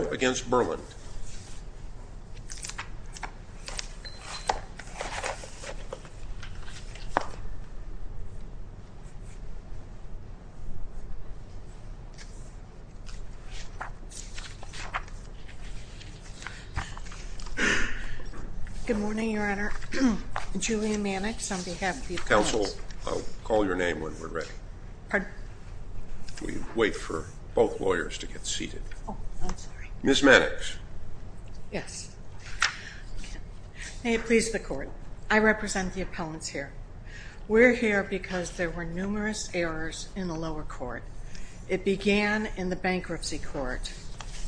against Berland. Good morning, Your Honor. Julian Mannix on behalf of the counsel. I'll call your name when we're ready. We wait for both lawyers to get seated. Ms. Mannix. Yes. May it please the court. I represent the appellants here. We're here because there were numerous errors in the lower court. It began in the bankruptcy court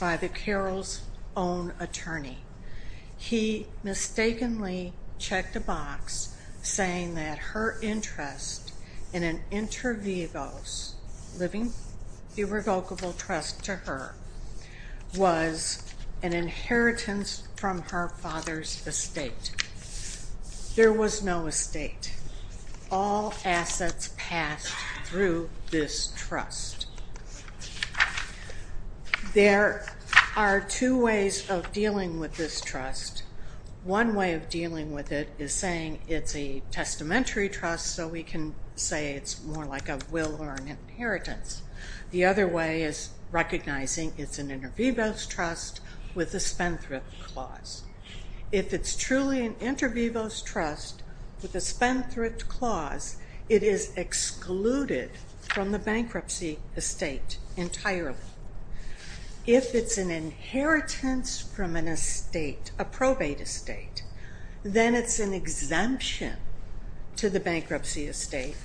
by the Carroll's own attorney. He mistakenly checked a box saying that her interest in an inter vivos living irrevocable trust to her was an inheritance from her father's estate. There was no estate. All assets passed through this trust. There are two ways of dealing with this trust. One way of dealing with it is saying it's a testamentary trust. So we can say it's more like a will or an inheritance. The other way is recognizing it's an inter vivos trust with a spendthrift clause. If it's truly an inter vivos trust with a spendthrift clause, it is excluded from the bankruptcy estate entirely. If it's an inheritance from an estate, a probate estate, then it's an exemption to the bankruptcy estate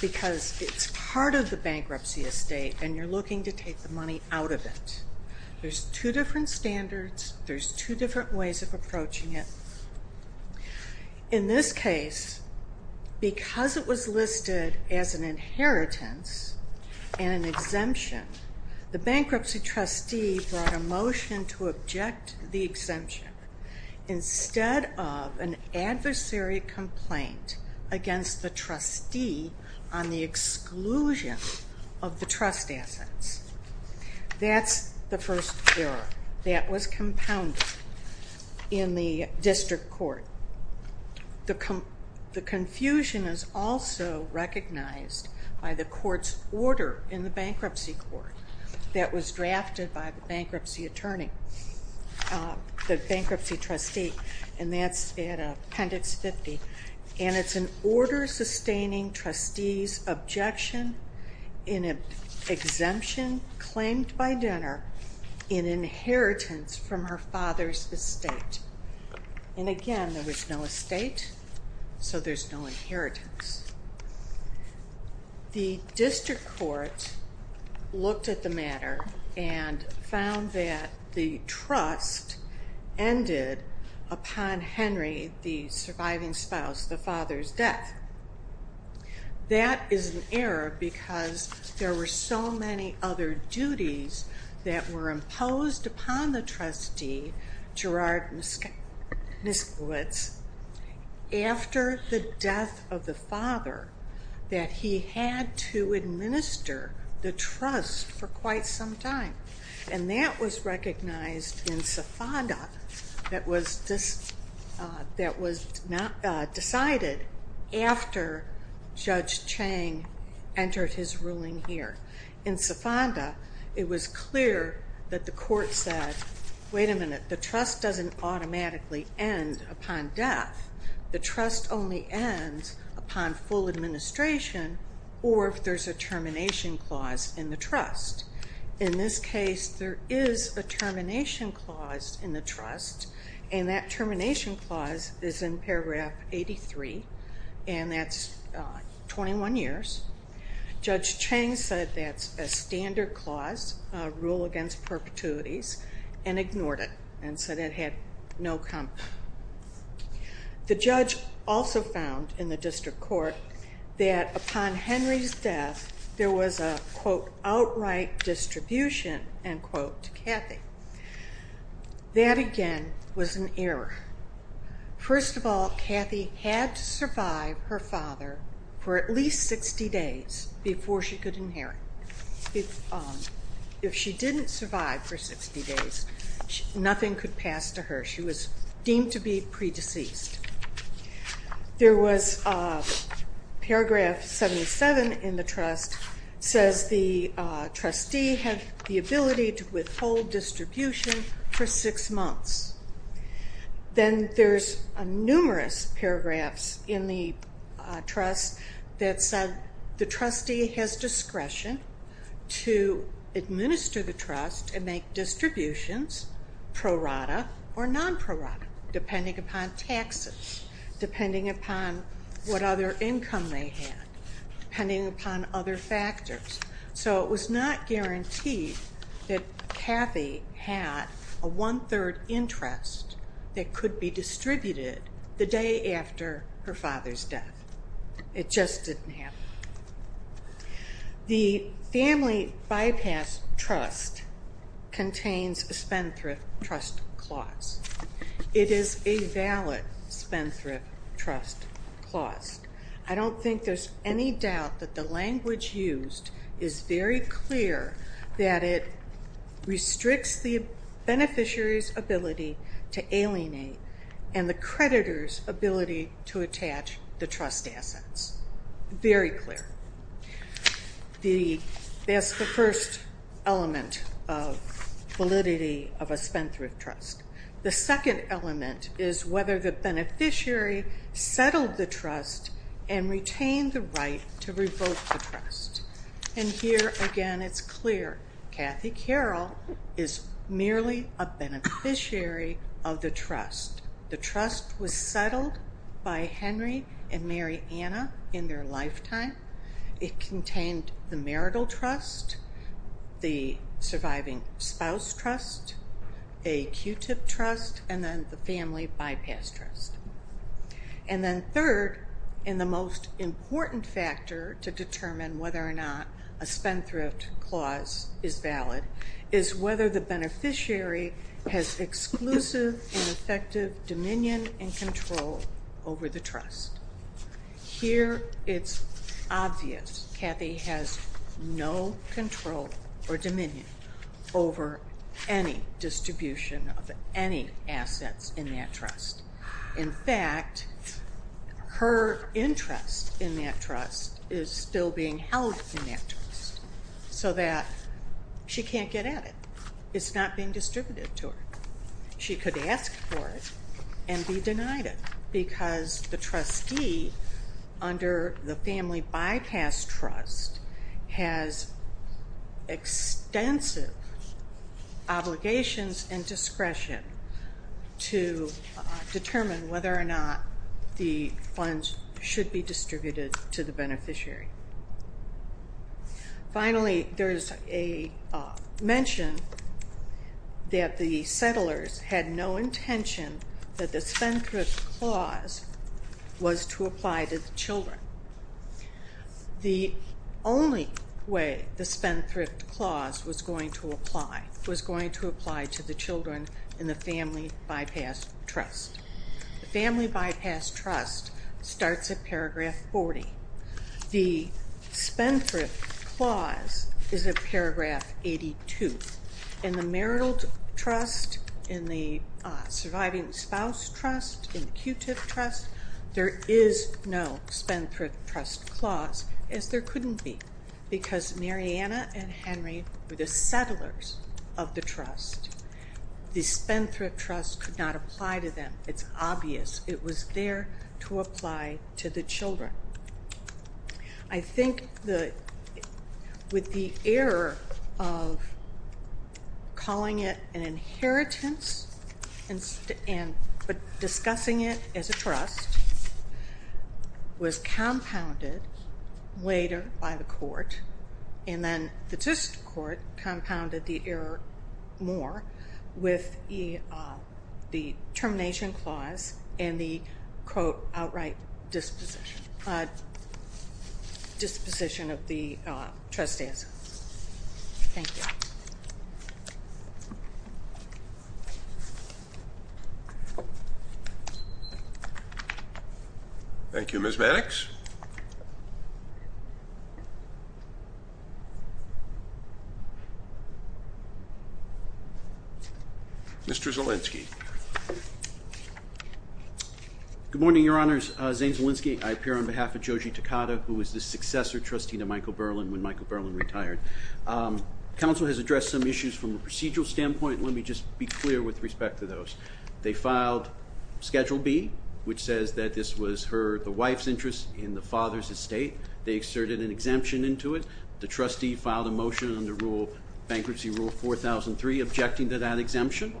because it's part of the bankruptcy estate and you're looking to take the money out of it. There's two different standards. There's two different ways of approaching it. In this case, because it was listed as an inheritance and an exemption, the bankruptcy trustee brought a motion to object the exemption instead of an adversary complaint against the trustee on the exclusion of the trust assets. That's the first error that was compounded in the district court. The confusion is also recognized by the court's order in the bankruptcy court that was drafted by the bankruptcy attorney, the bankruptcy trustee, and that's in appendix 50. And it's an order sustaining trustees objection in an exemption claimed by dinner in inheritance from her father's estate. And again, there was no estate, so there's no inheritance. The district court looked at the matter and found that the trust ended upon Henry, the surviving spouse, the father's death. That is an error because there were so many other duties that were imposed upon the trustee, Gerard Niskowitz, after the death of the father, that he had to administer the trust for quite some time. And that was decided after Judge Chang entered his ruling here. In Safanda, it was clear that the court said, wait a minute, the trust doesn't automatically end upon death. The trust only ends upon full administration, or if there's a termination clause in the trust. In this case, there is a termination clause in the 83, and that's 21 years. Judge Chang said that's a standard clause, a rule against perpetuities, and ignored it and said it had no comp. The judge also found in the district court that upon Henry's death, there was a quote, outright distribution, end quote, to Kathy. That again, was an error. First of all, Kathy had to survive her father for at least 60 days before she could inherit. If she didn't survive for 60 days, nothing could pass to her. She was deemed to be pre-deceased. There was paragraph 77 in the trust says the trustee had the ability to withhold distribution for six months. Then there's numerous paragraphs in the trust that said the trustee has discretion to administer the trust and make distributions, prorata or non-prorata, depending upon taxes, depending upon what other income they had, depending upon other factors. So it was not guaranteed that Kathy had a one third interest that could be distributed the day after her father's death. It just didn't happen. The family bypass trust contains a Spendthrift trust clause. It is a valid Spendthrift trust clause. I don't think there's any doubt that the language used is very clear that it restricts the beneficiary's ability to alienate and the creditor's ability to attach the trust assets. Very clear. That's the first element of validity of a Spendthrift trust. The second element is whether the beneficiary settled the trust and retained the right to revoke the trust. And here again, it's clear. Kathy Carroll is merely a beneficiary of the trust. The trust was settled by Henry and Mary Anna in their lifetime. It contained the marital trust, the surviving spouse trust, a Q-tip trust, and then the family bypass trust. And then third, and the most important factor to determine whether or not a Spendthrift clause is valid, is whether the beneficiary has exclusive and effective dominion and control over the trust. Here it's obvious. Kathy has no control or dominion over any distribution of any assets in that trust. In fact, her interest in that trust is still being held in that trust, so that she can't get at it. It's not being distributed to her. She could ask for it and be denied it because the trustee under the family bypass trust has extensive obligations and discretion to determine whether or not the funds should be distributed to the beneficiary. Finally, there is a mention that the settlers had no intention that the Spendthrift clause was to apply to the children. The only way the Spendthrift clause was going to apply was going to apply to the children in the family bypass trust. The family bypass trust starts at paragraph 40. The Spendthrift clause is at paragraph 82. In the marital trust, in the surviving spouse trust, in the Q-tip trust, there is no Spendthrift trust clause, as there couldn't be, because Mariana and Henry were the settlers of the trust. The Spendthrift trust could not apply to them. It's obvious it was there to apply to the children. I think that with the error of calling it an error later by the court, and then the just court compounded the error more with the termination clause and the outright disposition of the trustee. Thank you. Thank you, Ms. Mannix. Mr. Zolinski. Good morning, Your Honors. Zane Zolinski. I appear on behalf of Joji Takada, who was the successor trustee to Michael Berlin when Michael Berlin retired. Council has addressed some issues from a procedural standpoint. Let me just be clear with respect to those. They filed Schedule B, which says that this was the wife's interest in the father's estate. They exerted an exemption into it. The trustee filed a motion under bankruptcy rule 4003, objecting to that exemption.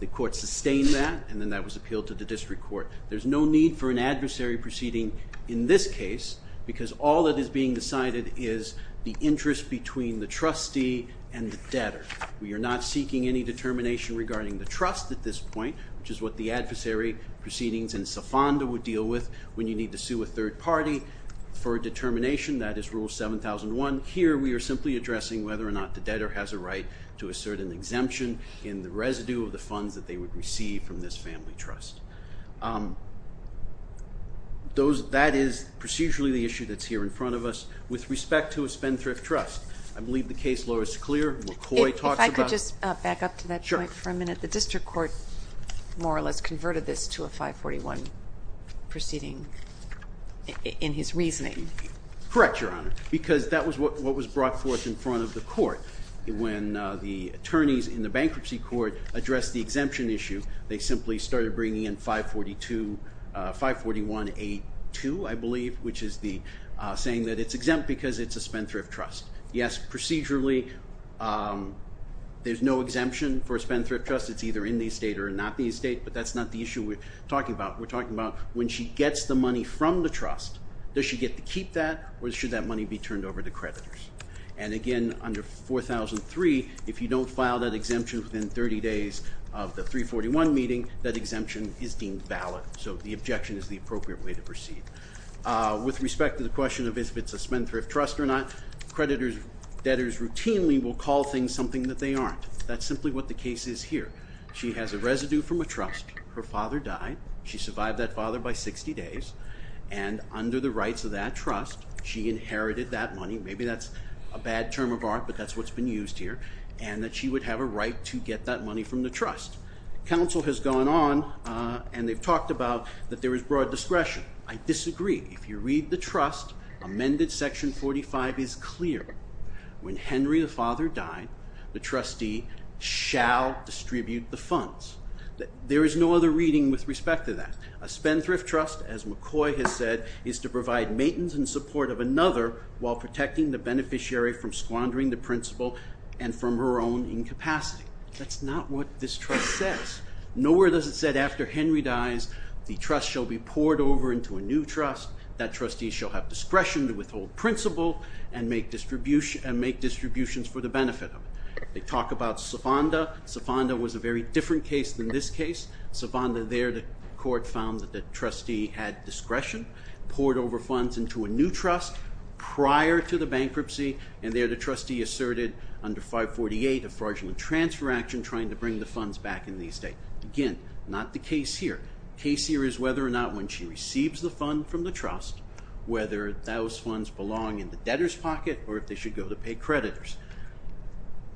The court sustained that, and then that was appealed to the district court. There's no need for an adversary proceeding in this case, because all that is being decided is the interest between the trustee and the debtor. We are not seeking any determination regarding the trust at this point, which is what the adversary proceedings and third party for determination, that is rule 7001. Here, we are simply addressing whether or not the debtor has a right to assert an exemption in the residue of the funds that they would receive from this family trust. That is procedurally the issue that's here in front of us with respect to a spendthrift trust. I believe the case law is clear. McCoy talks about... If I could just back up to that point for a minute. The district court more or less converted this to a 541 proceeding in his reasoning. Correct, Your Honor, because that was what was brought forth in front of the court. When the attorneys in the bankruptcy court addressed the exemption issue, they simply started bringing in 541A2, I believe, which is saying that it's exempt because it's a spendthrift trust. Yes, procedurally, there's no exemption for a spendthrift trust. It's either in the estate or not in the estate, but that's not the issue we're talking about. We're talking about when she gets the money from the trust, does she get to keep that, or should that money be turned over to creditors? And again, under 4003, if you don't file that exemption within 30 days of the 341 meeting, that exemption is deemed valid, so the objection is the appropriate way to proceed. With respect to the question of if it's a spendthrift trust or not, creditors, debtors routinely will call things something that they aren't. That's simply what the case is here. She has a residue from a trust. Her father died. She survived that father by 60 days, and under the rights of that trust, she inherited that money. Maybe that's a bad term of art, but that's what's been used here, and that she would have a right to get that money from the trust. Counsel has gone on and they've talked about that there is broad discretion. I disagree. If you read the trust, amended section 45 is clear. When Henry, the father, died, the trustee shall distribute the funds. There is no other reading with respect to that. A spendthrift trust, as McCoy has said, is to provide maintenance and support of another while protecting the beneficiary from squandering the principal and from her own incapacity. That's not what this trust says. Nowhere does it say, after Henry dies, the trust shall be poured over into a new trust. That trustee shall have discretion to withhold principal and make distributions for the benefit of it. They talk about Safanda. Safanda was a very different case than this case. Safanda there, the court found that the trustee had discretion, poured over funds into a new trust prior to the bankruptcy, and there the trustee asserted under 548, a fraudulent transfer action, trying to bring the funds back in the estate. Again, not the case here. Case here is whether or not, when she receives the fund from the trust, whether those funds belong in the debtor's pocket or if they should go to pay creditors.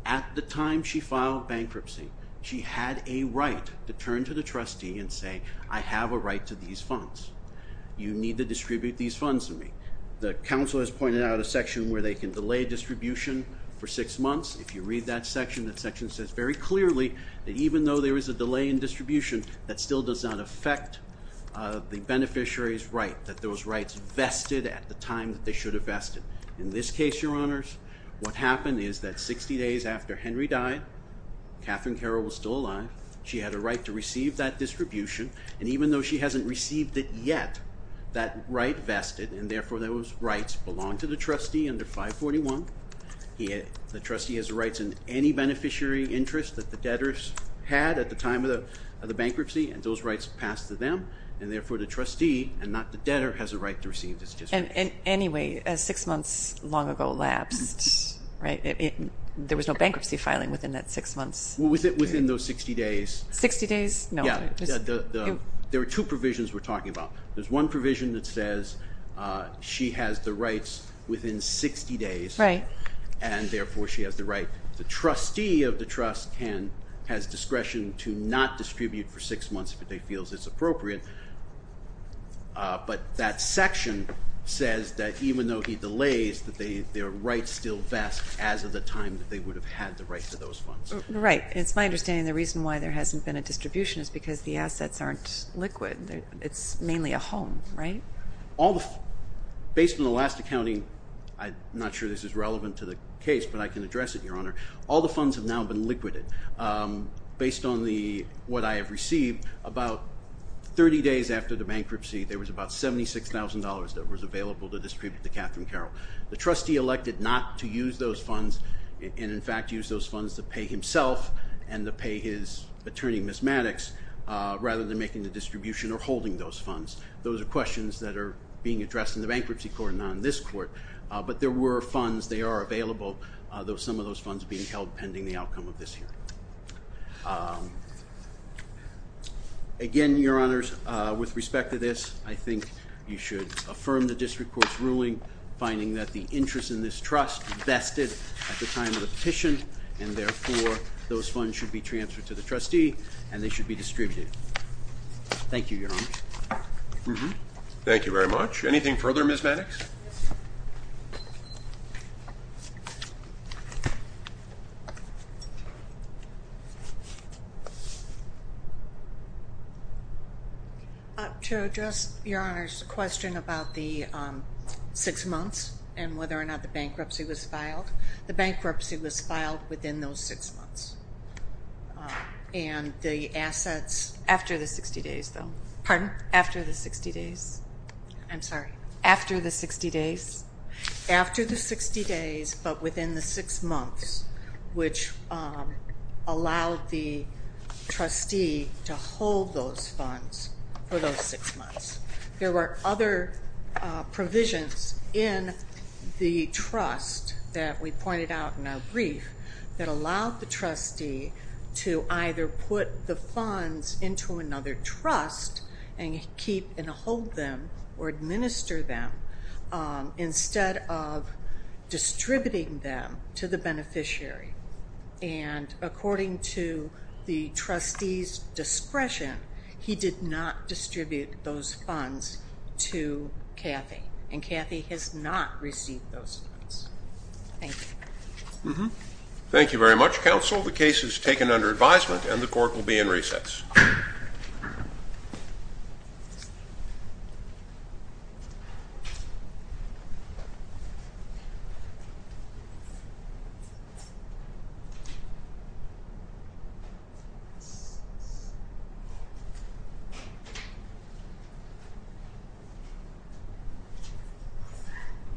At the time she filed bankruptcy, she had a right to turn to the trustee and say, I have a right to these funds. You need to distribute these funds to me. The council has pointed out a section where they can delay distribution for six months. If you read that section, that section says very clearly that even though there is a delay in distribution, that still does not affect the beneficiary's right, that those rights vested at the time that they should have vested. In this case, Your Honors, what happened is that 60 days after Henry died, Catherine Carroll was still alive. She had a right to receive that distribution and even though she hasn't received it yet, that right vested and therefore those rights belong to the trustee under 541. The trustee has rights in any beneficiary interest that the debtors had at the time of the bankruptcy and those rights passed to them and therefore the trustee and not the debtor has a right to receive this distribution. Anyway, six months long collapsed, right? There was no bankruptcy filing within that six months. Was it within those 60 days? 60 days? No. Yeah. There are two provisions we're talking about. There's one provision that says she has the rights within 60 days and therefore she has the right. The trustee of the trust has discretion to not distribute for six months if it feels it's appropriate, but that section says that even though he delays, that their rights still vest as of the time that they would have had the right to those funds. Right. It's my understanding the reason why there hasn't been a distribution is because the assets aren't liquid. It's mainly a home, right? All the... Based on the last accounting, I'm not sure this is relevant to the case, but I can address it, Your Honor. All the funds have now been distributed. 30 days after the bankruptcy, there was about $76,000 that was available to distribute to Catherine Carroll. The trustee elected not to use those funds and in fact used those funds to pay himself and to pay his attorney, Ms. Maddox, rather than making the distribution or holding those funds. Those are questions that are being addressed in the bankruptcy court, not in this court, but there were funds, they are available, some of those funds being held pending the outcome of this hearing. Again, Your Honors, with respect to this, I think you should affirm the district court's ruling, finding that the interest in this trust vested at the time of the petition and therefore those funds should be transferred to the trustee and they should be distributed. Thank you, Your Honor. Thank you very much. Anything further, Ms. Maddox? To address Your Honor's question about the six months and whether or not the bankruptcy was filed, the bankruptcy was filed within those six months and the assets... After the 60 days, though. Pardon? After the 60 days. I'm sorry. After the 60 days. After the 60 days, but within the six months, which allowed the trustee to hold those funds for those six months. There were other provisions in the trust that we pointed out in our brief that allowed the trustee to either put the funds into another trust and keep and hold them or administer them instead of distributing them to the beneficiary. And according to the trustee's discretion, he did not distribute those funds to Kathy and Kathy has not received those funds. Thank you. Thank you very much, counsel. The case is taken under advisement and the court will be in recess. Thank you.